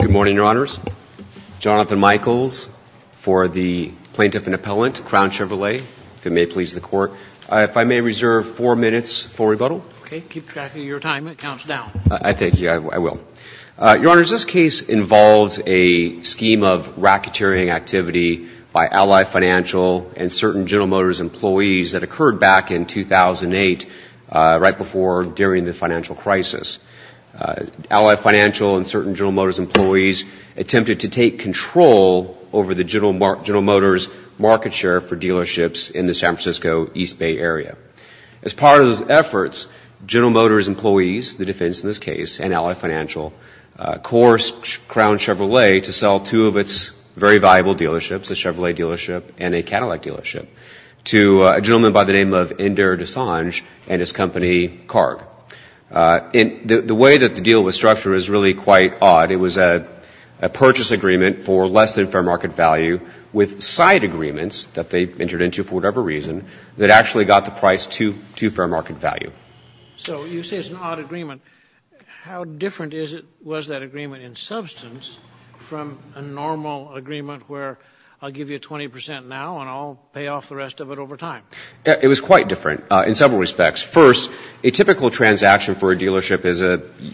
Good morning, Your Honors. Jonathan Michaels for the Plaintiff and Appellant, Crown Chevrolet, if it may please the Court. If I may reserve four minutes for rebuttal. Okay, keep track of your time. It counts down. I thank you. I will. Your Honors, this case involves a scheme of racketeering activity by Ally Financial and certain General Motors employees that occurred back in 2008, right before, during the financial crisis. Ally Financial and certain General Motors employees attempted to take control over the General Motors market share for dealerships in the San Francisco East Bay area. As part of those efforts, General Motors employees, the defense in this case, and Ally Financial coerced Crown Chevrolet to sell two of its very valuable dealerships, a Chevrolet dealership and a Cadillac dealership to a gentleman by the name of Inder Desange and his company, Carg. The way that the deal was structured is really quite odd. It was a purchase agreement for less than fair market value with side agreements that they entered into for whatever reason that actually got the price to fair market value. So you say it's an odd agreement. How different was that agreement in substance from a normal agreement where I'll give you 20 percent now and I'll pay off the rest of it over time? It was quite different in several respects. First, a typical transaction for a dealership is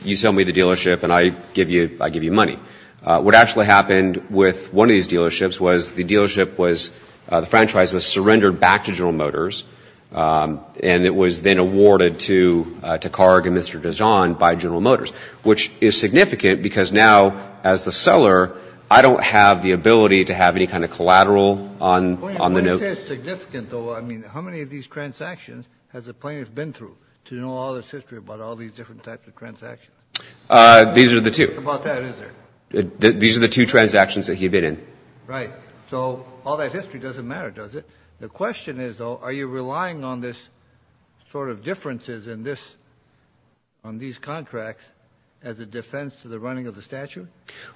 you sell me the dealership and I give you money. What actually happened with one of these dealerships was the dealership was, the franchise was surrendered back to General Motors and it was then awarded to Carg and Mr. Desange by General Motors, which is significant because now, as the seller, I don't have the ability to have any kind of collateral on the note. Wait a minute. When you say it's significant, though, I mean how many of these transactions has the plaintiff been through to know all this history about all these different types of transactions? These are the two. About that, is there? These are the two transactions that he'd been in. Right. So all that history doesn't matter, does it? The question is, though, are you relying on this sort of differences in this, on these contracts, as a defense to the running of the statute?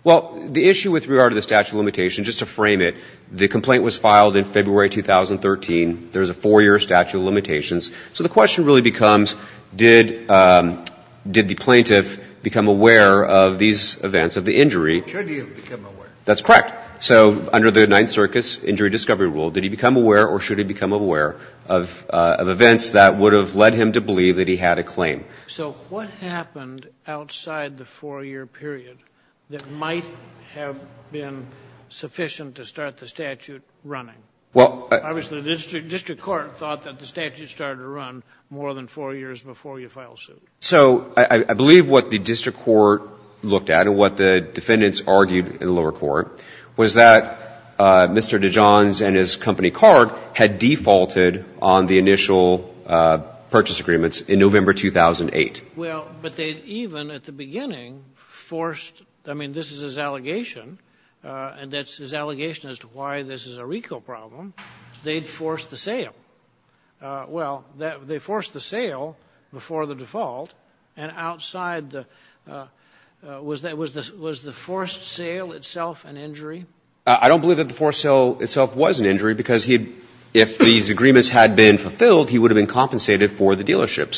Well, the issue with regard to the statute of limitations, just to frame it, the complaint was filed in February 2013. There's a four-year statute of limitations. So the question really becomes did the plaintiff become aware of these events, of the injury? Should he have become aware? That's correct. So under the Ninth Circus Injury Discovery Rule, did he become aware or should he become aware of events that would have led him to believe that he had a claim? So what happened outside the four-year period that might have been sufficient to start the statute running? Well, I Obviously the district court thought that the statute started to run more than four years before you filed suit. So I believe what the district court looked at and what the defendants argued in the lower court was that Mr. Dijon's and his company card had defaulted on the initial purchase agreements in November 2008. Well, but they even at the beginning forced, I mean, this is his allegation, and that's his allegation as to why this is a RICO problem. They forced the sale. Well, they forced the sale before the default, and outside the was the forced sale itself an injury? I don't believe that the forced sale itself was an injury because if these agreements had been fulfilled, he would have been compensated for the dealership.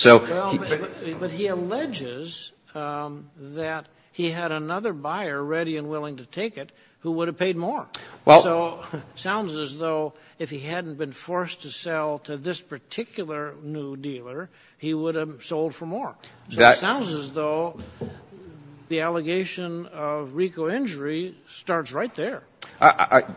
But he alleges that he had another buyer ready and willing to take it who would have paid more. So it sounds as though if he hadn't been forced to sell to this particular new dealer, he would have sold for more. So it sounds as though the allegation of RICO injury starts right there.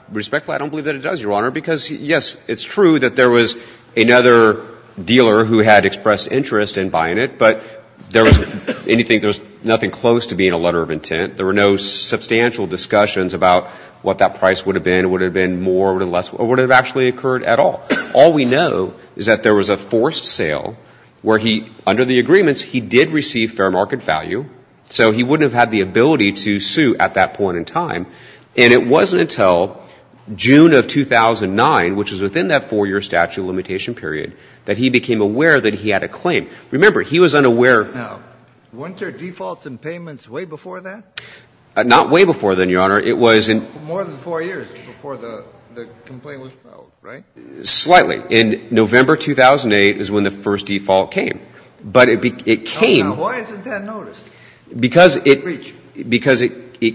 Respectfully, I don't believe that it does, Your Honor, because, yes, it's true that there was another dealer who had expressed interest in buying it, but there was nothing close to being a letter of intent. There were no substantial discussions about what that price would have been, would have been more or less, or would have actually occurred at all. All we know is that there was a forced sale where he, under the agreements, he did receive fair market value, so he wouldn't have had the ability to sue at that point in time. And it wasn't until June of 2009, which was within that 4-year statute limitation period, that he became aware that he had a claim. Remember, he was unaware. Now, weren't there defaults in payments way before that? Not way before then, Your Honor. It was in more than 4 years before the complaint was filed, right? Slightly. In November 2008 is when the first default came. But it came. Now, why isn't that noticed? Because it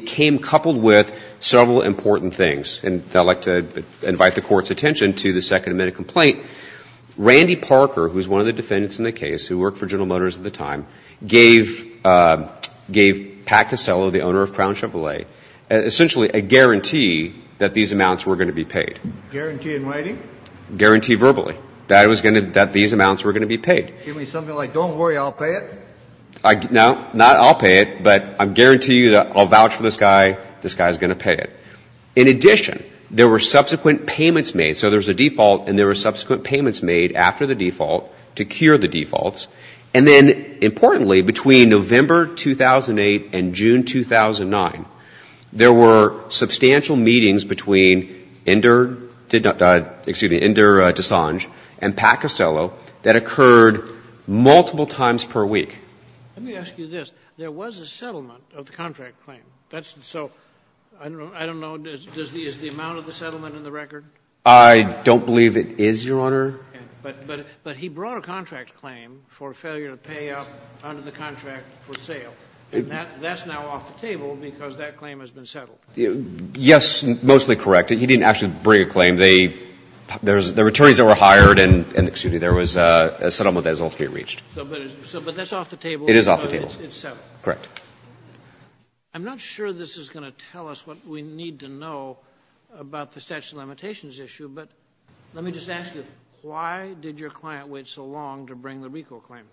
came coupled with several important things. And I'd like to invite the Court's attention to the Second Amendment complaint. Randy Parker, who is one of the defendants in the case who worked for General Motors at the time, gave Pat Costello, the owner of Crown Chevrolet, essentially a guarantee that these amounts were going to be paid. Guarantee in writing? Guarantee verbally, that these amounts were going to be paid. Give me something like, don't worry, I'll pay it? No, not I'll pay it, but I guarantee you that I'll vouch for this guy. This guy is going to pay it. In addition, there were subsequent payments made. So there's a default, and there were subsequent payments made after the default to cure the defaults. And then, importantly, between November 2008 and June 2009, there were substantial meetings between Inder Desange and Pat Costello that occurred multiple times per week. Let me ask you this. There was a settlement of the contract claim. So I don't know, is the amount of the settlement in the record? I don't believe it is, Your Honor. But he brought a contract claim for failure to pay up under the contract for sale. And that's now off the table because that claim has been settled. Yes, mostly correct. He didn't actually bring a claim. There were attorneys that were hired and, excuse me, there was a settlement that was ultimately reached. But that's off the table. It is off the table. It's settled. Correct. I'm not sure this is going to tell us what we need to know about the statute of limitations issue. But let me just ask you, why did your client wait so long to bring the RICO claim?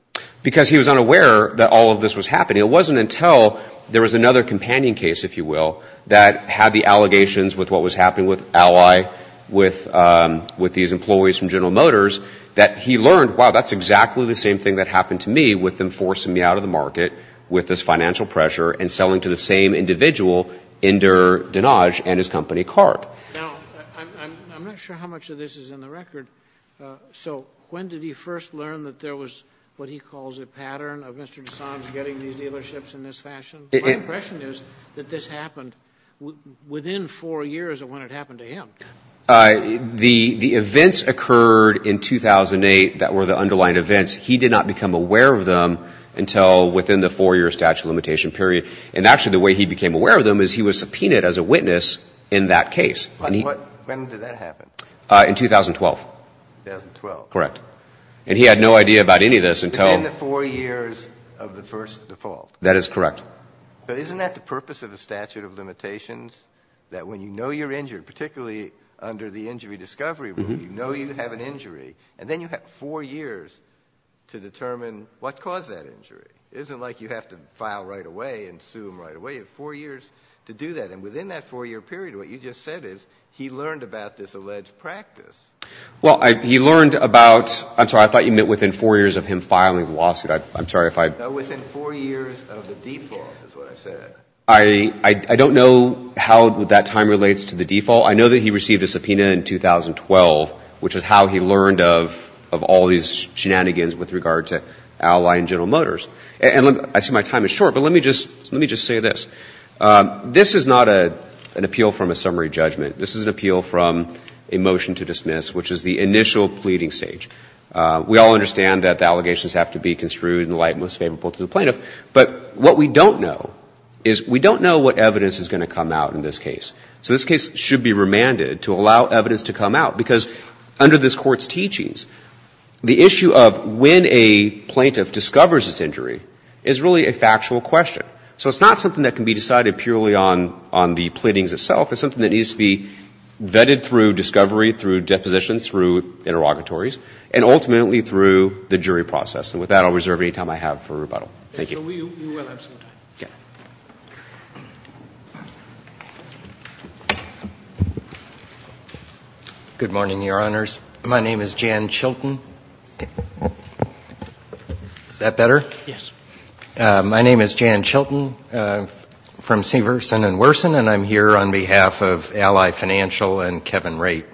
Because he was unaware that all of this was happening. It wasn't until there was another companion case, if you will, that had the allegations with what was happening with Ally, with these employees from General Motors, that he learned, wow, that's exactly the same thing that happened to me with them forcing me out of the market with this financial pressure and selling to the same individual, Inder Desange, and his company, Karp. Now, I'm not sure how much of this is in the record. So when did he first learn that there was what he calls a pattern of Mr. Desange getting these dealerships in this fashion? My impression is that this happened within four years of when it happened to him. The events occurred in 2008 that were the underlying events. He did not become aware of them until within the four-year statute of limitation period. And actually the way he became aware of them is he was subpoenaed as a witness in that case. When did that happen? In 2012. 2012. Correct. And he had no idea about any of this until Within the four years of the first default. That is correct. But isn't that the purpose of the statute of limitations, that when you know you're injured, particularly under the injury discovery rule, you know you have an injury and then you have four years to determine what caused that injury. It isn't like you have to file right away and sue them right away. You have four years to do that. And within that four-year period, what you just said is he learned about this alleged practice. Well, he learned about – I'm sorry, I thought you meant within four years of him filing the lawsuit. I'm sorry if I No, within four years of the default is what I said. I don't know how that time relates to the default. I know that he received a subpoena in 2012, which is how he learned of all these shenanigans with regard to Ally and General Motors. And I see my time is short, but let me just say this. This is not an appeal from a summary judgment. This is an appeal from a motion to dismiss, which is the initial pleading stage. We all understand that the allegations have to be construed in the light most favorable to the plaintiff. But what we don't know is we don't know what evidence is going to come out in this case. So this case should be remanded to allow evidence to come out, because under this Court's teachings, the issue of when a plaintiff discovers this injury is really a factual question. So it's not something that can be decided purely on the pleadings itself. It's something that needs to be vetted through discovery, through depositions, through interrogatories, and ultimately through the jury process. And with that, I'll reserve any time I have for rebuttal. Thank you. We will have some time. Good morning, Your Honors. My name is Jan Chilton. Is that better? Yes. My name is Jan Chilton. I'm from Severson & Worson, and I'm here on behalf of Ally Financial and Kevin Raitt.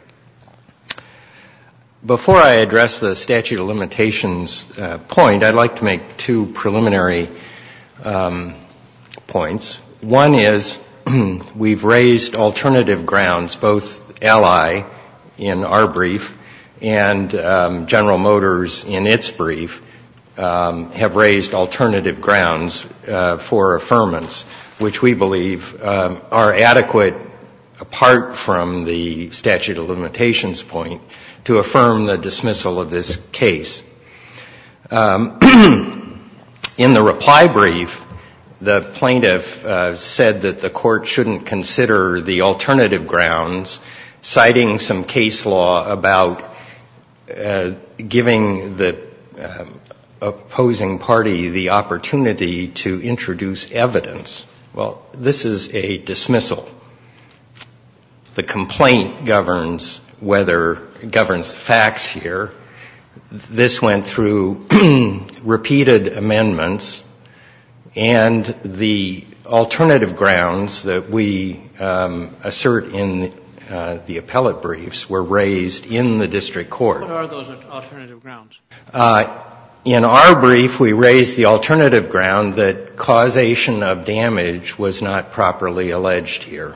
Before I address the statute of limitations point, I'd like to make two preliminary points. One is we've raised alternative grounds, both Ally in our brief and General in our brief. We've raised alternative grounds for affirmance, which we believe are adequate apart from the statute of limitations point to affirm the dismissal of this case. In the reply brief, the plaintiff said that the Court shouldn't consider the alternative grounds, citing some case law about giving the opposing parties the opportunity to introduce evidence. Well, this is a dismissal. The complaint governs facts here. This went through repeated amendments, and the alternative grounds that we assert in the appellate briefs were raised in the district court. What are those alternative grounds? In our brief, we raised the alternative ground that causation of damage was not properly alleged here.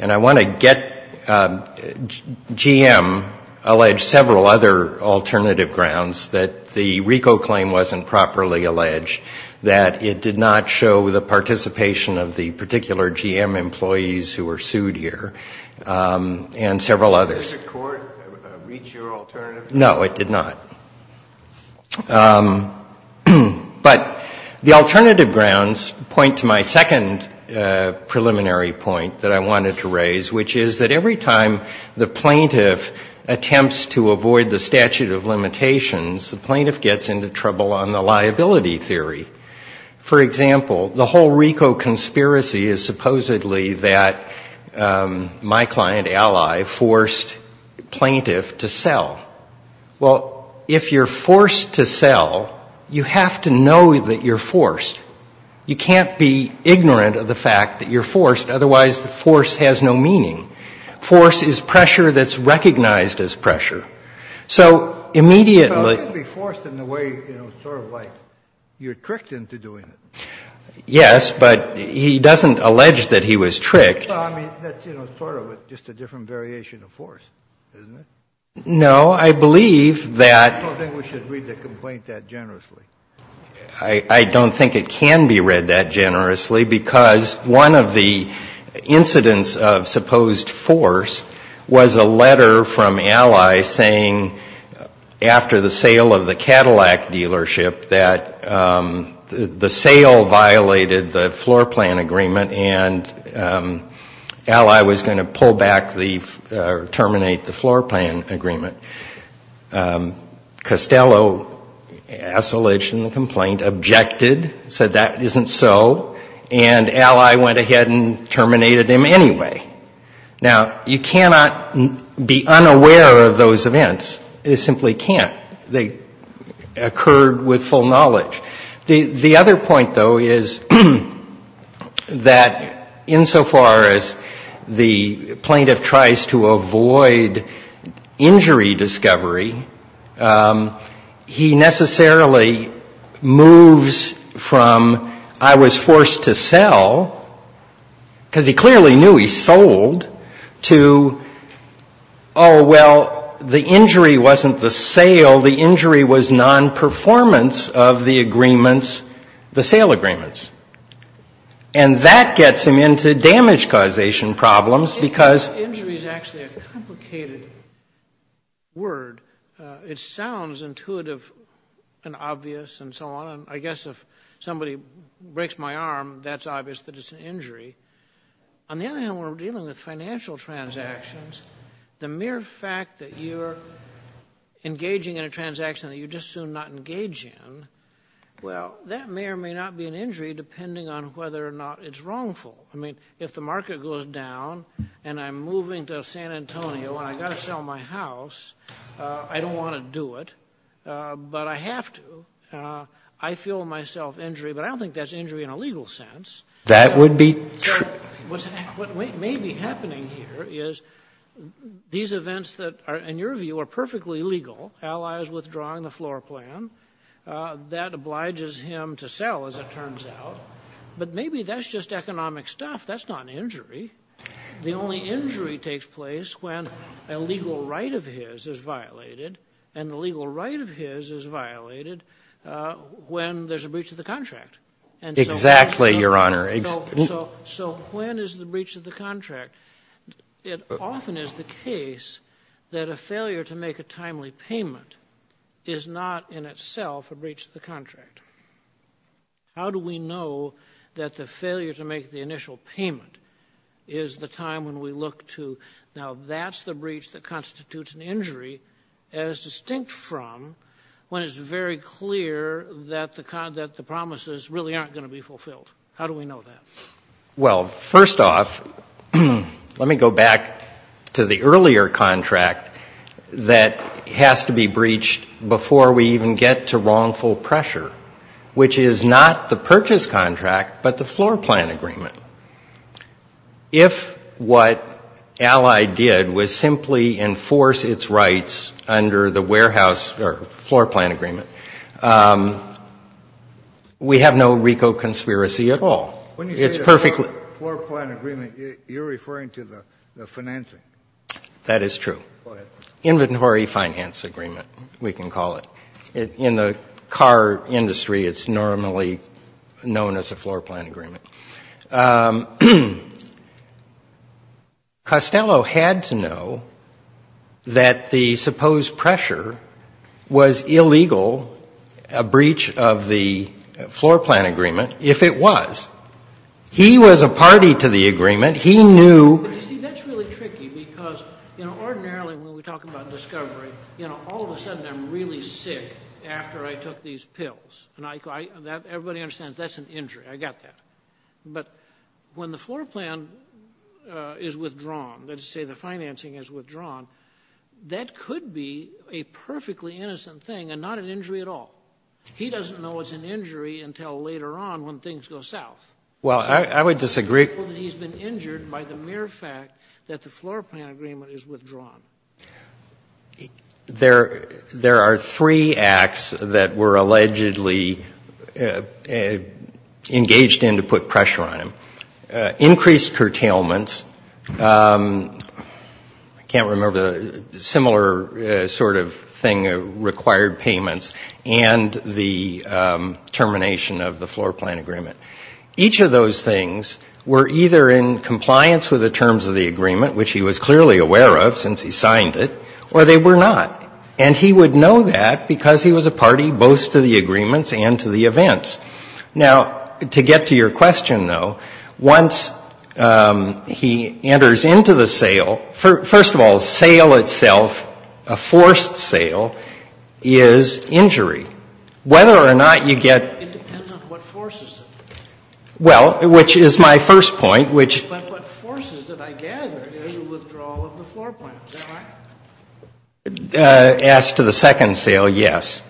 And I want to get GM alleged several other alternative grounds that the RICO claim wasn't properly alleged, that it did not show the participation of the particular GM employees who were sued here, and several others. Did the court reach your alternative? No, it did not. But the alternative grounds point to my second preliminary point that I wanted to raise, which is that every time the plaintiff attempts to avoid the statute of limitations, the plaintiff gets into trouble on the liability theory. For example, the whole RICO conspiracy is supposedly that my client ally forced plaintiff to sell. Well, if you're forced to sell, you have to know that you're forced. You can't be ignorant of the fact that you're forced, otherwise the force has no meaning. Force is pressure that's recognized as pressure. So immediately... Yes, but he doesn't allege that he was tricked. No, I believe that... I don't think it can be read that generously, because one of the incidents of supposed force was a letter from Ally saying after the sale of the Cadillac dealership that the sale violated the floor plan agreement, and Ally was going to pull back or terminate the floor plan agreement. Costello, as alleged in the complaint, objected, said that isn't so, and Ally went to him anyway. Now, you cannot be unaware of those events. You simply can't. They occurred with full knowledge. The other point, though, is that insofar as the plaintiff tries to avoid injury discovery, he necessarily moves from I was forced to sell, because he clearly knew he sold, to, oh, well, the injury wasn't the sale. The injury was nonperformance of the agreements, the sale agreements. And that gets him into damage causation problems, because... word, it sounds intuitive and obvious and so on. I guess if somebody breaks my arm, that's obvious that it's an injury. On the other hand, when we're dealing with financial transactions, the mere fact that you're engaging in a transaction that you're just soon not engaged in, well, that may or may not be an injury, depending on whether or not it's wrongful. I mean, if the market goes down and I'm moving to San Antonio and I've got to sell my house, I don't want to do it, but I have to. I feel myself injury, but I don't think that's injury in a legal sense. What may be happening here is these events that are, in your view, are perfectly legal. Ally is withdrawing the floor plan. That obliges him to sell, as it turns out. But maybe that's just economic stuff. That's not an injury. The only injury takes place when a legal right of his is violated, and the legal right of his is violated when there's a breach of the contract. Exactly, Your Honor. So when is the breach of the contract? It often is the case that a failure to make a timely payment is not in itself a breach of the contract. How do we know that the failure to make the initial payment is the time when we look to, now, that's the breach that constitutes an injury, as distinct from when it's very clear that the promises really aren't going to be fulfilled? How do we know that? Well, first off, let me go back to the earlier contract that has to be breached before we even get to wrongful pressure, which is not the purchase contract, but the floor plan agreement. If what Ally did was simply enforce its rights under the warehouse or floor plan agreement, we have no ecoconspiracy at all. When you say the floor plan agreement, you're referring to the financing. That is true. Inventory finance agreement, we can call it. In the car industry, it's normally known as a floor plan agreement. Costello had to know that the supposed pressure was illegal, a breach of the floor plan agreement, if it was. He was a party to the agreement. He knew. You see, that's really tricky, because, you know, ordinarily when we talk about discovery, you know, all of a sudden I'm really sick after I took these pills. And everybody understands that's an injury. I got that. But when the floor plan is withdrawn, let's say the financing is withdrawn, that could be a perfectly innocent thing and not an injury at all. He doesn't know it's an injury until later on when things go south. Well, I would disagree. He's been injured by the mere fact that the floor plan agreement is withdrawn. There are three acts that were allegedly engaged in to put pressure on him. Increased curtailments. I can't remember. Similar sort of thing, required payments, and the termination of the floor plan agreement. Each of those things were either in compliance with the terms of the agreement, which he was clearly aware of since he signed it, or they were not. And he would know that because he was a party both to the agreements and to the events. Now, to get to your question, though, once he enters into the sale, first of all, the sale itself, a forced sale, is injury. Whether or not you get... Well, which is my first point, which... As to the second sale, yes.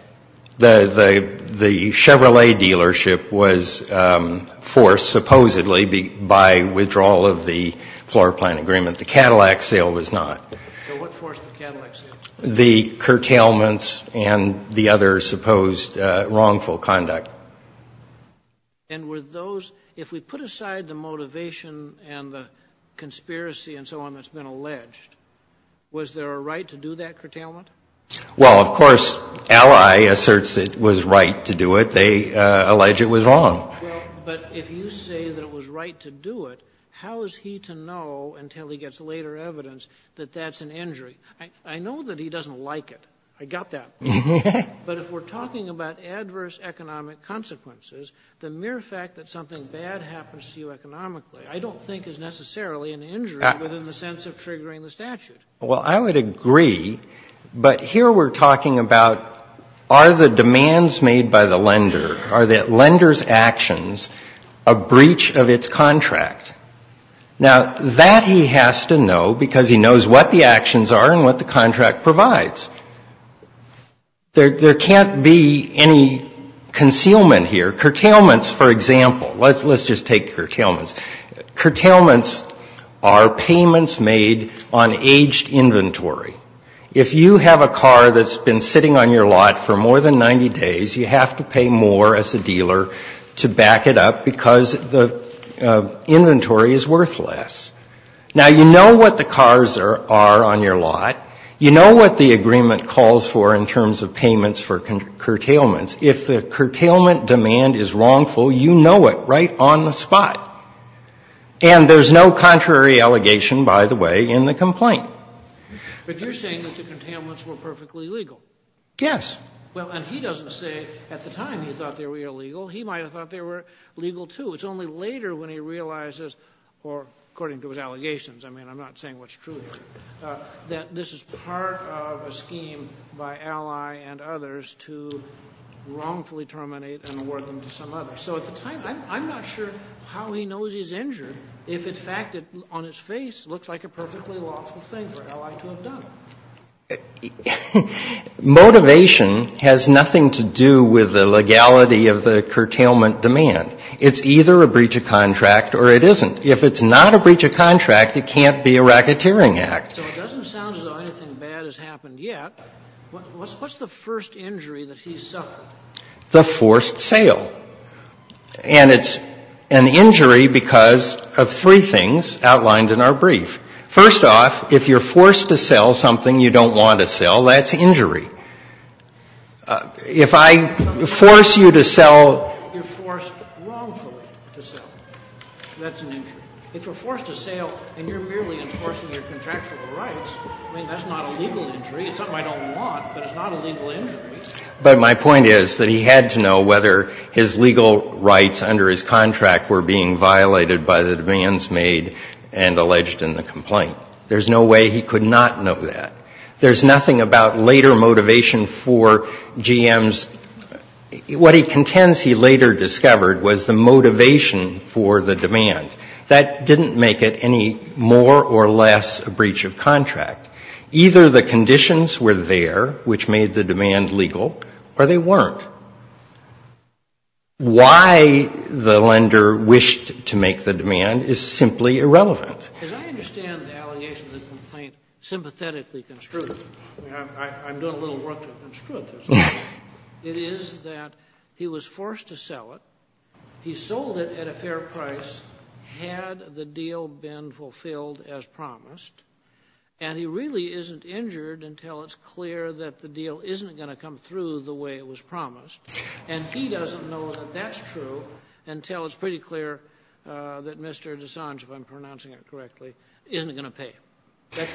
The Chevrolet dealership was forced, supposedly, by withdrawal of the floor plan agreement. The Cadillac sale was not. So what forced the Cadillac sale? The curtailments and the other supposed wrongful conduct. And were those, if we put aside the motivation and the conspiracy and so on that's been alleged, was there a right to do that curtailment? Well, of course, Ally asserts it was right to do it. They allege it was wrong. Well, but if you say that it was right to do it, how is he to know until he gets later evidence that that's an injury? I know that he doesn't like it. I got that. But if we're talking about adverse economic consequences, the mere fact that something bad happens to you economically, I don't think is necessarily an injury within the sense of triggering the statute. Well, I would agree, but here we're talking about are the demands made by the lender, are the lender's actions a breach of its contract? Now, that he has to know because he knows what the actions are and what the contract provides. There can't be any concealment here. Curtailments, for example, let's just take curtailments. Curtailments are payments made on aged inventory. If you have a car that's been sitting on your lot for more than 90 days, you have to pay more as a dealer to back it up because the inventory is on your lot, you know what the agreement calls for in terms of payments for curtailments. If the curtailment demand is wrongful, you know it right on the spot. And there's no contrary allegation, by the way, in the complaint. But you're saying that the curtailments were perfectly legal. Yes. Well, and he doesn't say at the time he thought they were illegal. He might have thought they were legal too. It's only later when he realizes, or according to his allegations, I mean, I'm not saying what's true here, that this is part of a scheme by Alley and others to wrongfully terminate and award them to some other. So at the time, I'm not sure how he knows he's injured if, in fact, it on his face looks like a perfectly lawful thing for Alley to have done. Motivation has nothing to do with the legality of the curtailment demand. It's either a breach of contract or it isn't. If it's not a breach of contract, it can't be a racketeering act. So it doesn't sound as though anything bad has happened yet. What's the first injury that he suffered? The forced sale. And it's an injury because of three things outlined in our brief. First off, if you're forced to sell something you don't want to sell, that's injury. If I force you to sell. You're forced wrongfully to sell. That's an injury. If you're forced to sell and you're merely enforcing your contractual rights, I mean, that's not a legal injury. It's something I don't want, but it's not a legal injury. But my point is that he had to know whether his legal rights under his contract were being violated by the demands made and alleged in the complaint. There's no way he could not know that. There's nothing about later motivation for GM's. What he contends he later discovered was the motivation for the demand. That didn't make it any more or less a breach of contract. Either the conditions were there, which made the demand legal, or they weren't. Why the lender wished to make the demand is simply irrelevant. As I understand the allegation of the complaint sympathetically construed, I'm doing a little work to construe it this way. It is that he was forced to sell it. He sold it at a fair price had the deal been fulfilled as promised. And he really isn't injured until it's clear that the deal isn't going to come through the way it was promised. And he doesn't know that that's true until it's pretty clear that Mr. Dessange, if I'm pronouncing it correctly, isn't going to pay.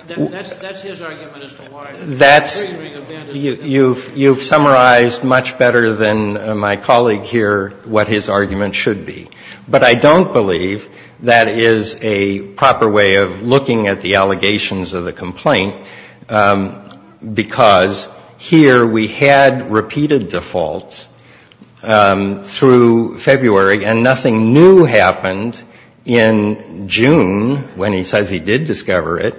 That's his argument as to why the free ring of bandits. You've summarized much better than my colleague here what his argument should be. But I don't believe that is a proper way of looking at the allegations of the complaint because here we had repeated defaults through February, and nothing new happened in June when he says he did discover it,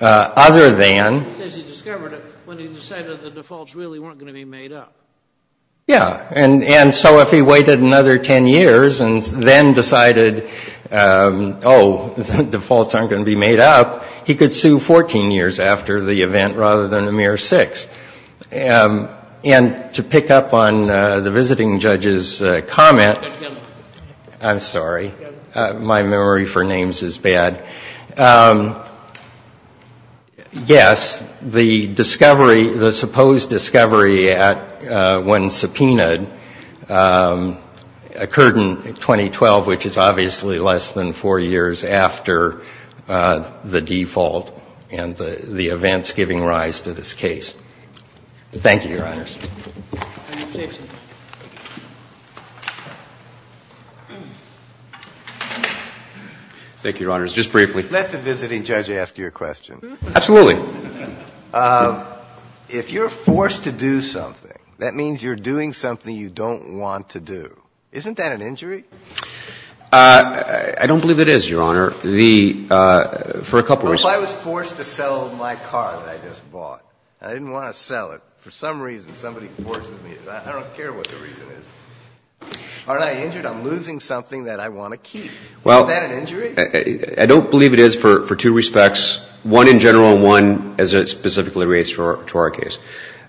other than. He says he discovered it when he decided the defaults really weren't going to be made up. Yeah. And so if he waited another 10 years and then decided, oh, defaults aren't going to be made up, he could sue 14 years after the event rather than a mere six. And to pick up on the visiting judge's comment, I'm sorry. My memory for names is bad. Yes, the discovery, the supposed discovery when subpoenaed occurred in 2012, which is obviously less than four years after the default and the events giving rise to this case. Thank you, Your Honors. Thank you, Your Honors. Just briefly. Let the visiting judge ask you a question. Absolutely. If you're forced to do something, that means you're doing something you don't want to do. Isn't that an injury? I don't believe it is, Your Honor. For a couple of reasons. What if I was forced to sell my car that I just bought and I didn't want to sell it? For some reason, somebody forces me. I don't care what the reason is. Aren't I injured? I'm losing something that I want to keep. Isn't that an injury? I don't believe it is for two respects. One in general and one as it specifically relates to our case.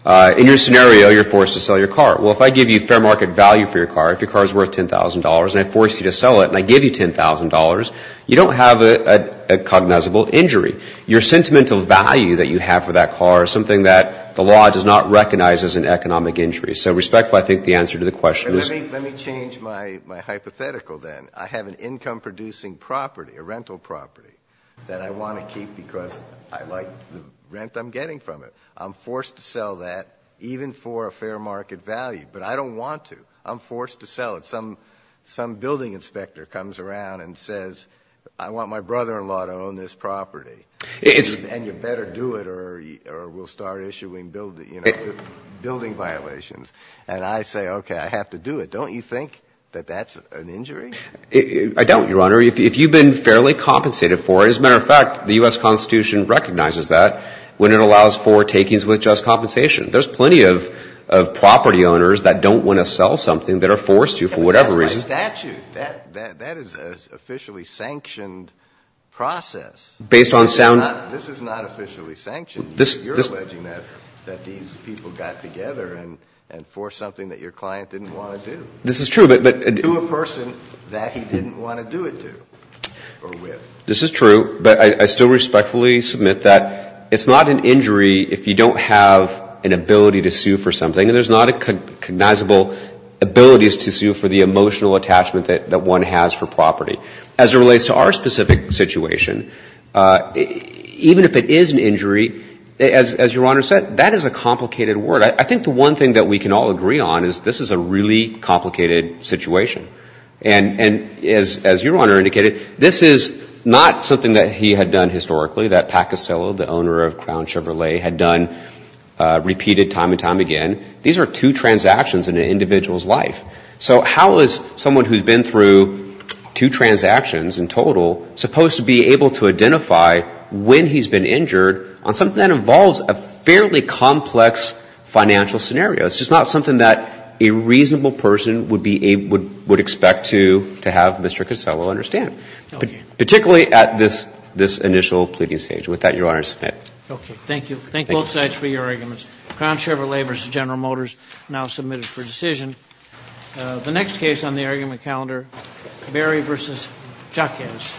In your scenario, you're forced to sell your car. Well, if I give you fair market value for your car, if your car is worth $10,000 and I force you to sell it and I give you $10,000, you don't have a cognizable injury. Your sentimental value that you have for that car is something that the law does not recognize as an economic injury. So respectfully, I think the answer to the question is no. Let me change my hypothetical then. I have an income-producing property, a rental property, that I want to keep because I like the rent I'm getting from it. I'm forced to sell that even for a fair market value, but I don't want to. I'm forced to sell it. Some building inspector comes around and says, I want my brother-in-law to own this property. And you better do it or we'll start issuing building violations. And I say, okay, I have to do it. Don't you think that that's an injury? I don't, Your Honor. If you've been fairly compensated for it. As a matter of fact, the U.S. Constitution recognizes that when it allows for takings with just compensation. There's plenty of property owners that don't want to sell something that are forced to for whatever reason. That's my statute. That is an officially sanctioned process. Based on sound. This is not officially sanctioned. You're alleging that these people got together and forced something that your client didn't want to do. This is true. To a person that he didn't want to do it to or with. This is true. But I still respectfully submit that it's not an injury if you don't have an ability to sue for something. And there's not a cognizable ability to sue for the emotional attachment that one has for property. As it relates to our specific situation, even if it is an injury, as Your Honor said, that is a complicated word. I think the one thing that we can all agree on is this is a really complicated situation. And as Your Honor indicated, this is not something that he had done historically. That Pacasillo, the owner of Crown Chevrolet, had done repeated time and time again. These are two transactions in an individual's life. So how is someone who's been through two transactions in total supposed to be able to identify when he's been injured on something that involves a fairly complex financial scenario? It's just not something that a reasonable person would expect to have Mr. Casello understand. Particularly at this initial pleading stage. With that, Your Honor, I submit. Okay. Thank you. Thank you both sides for your arguments. Crown Chevrolet v. General Motors now submitted for decision. The next case on the argument calendar, Berry v. Jacquez.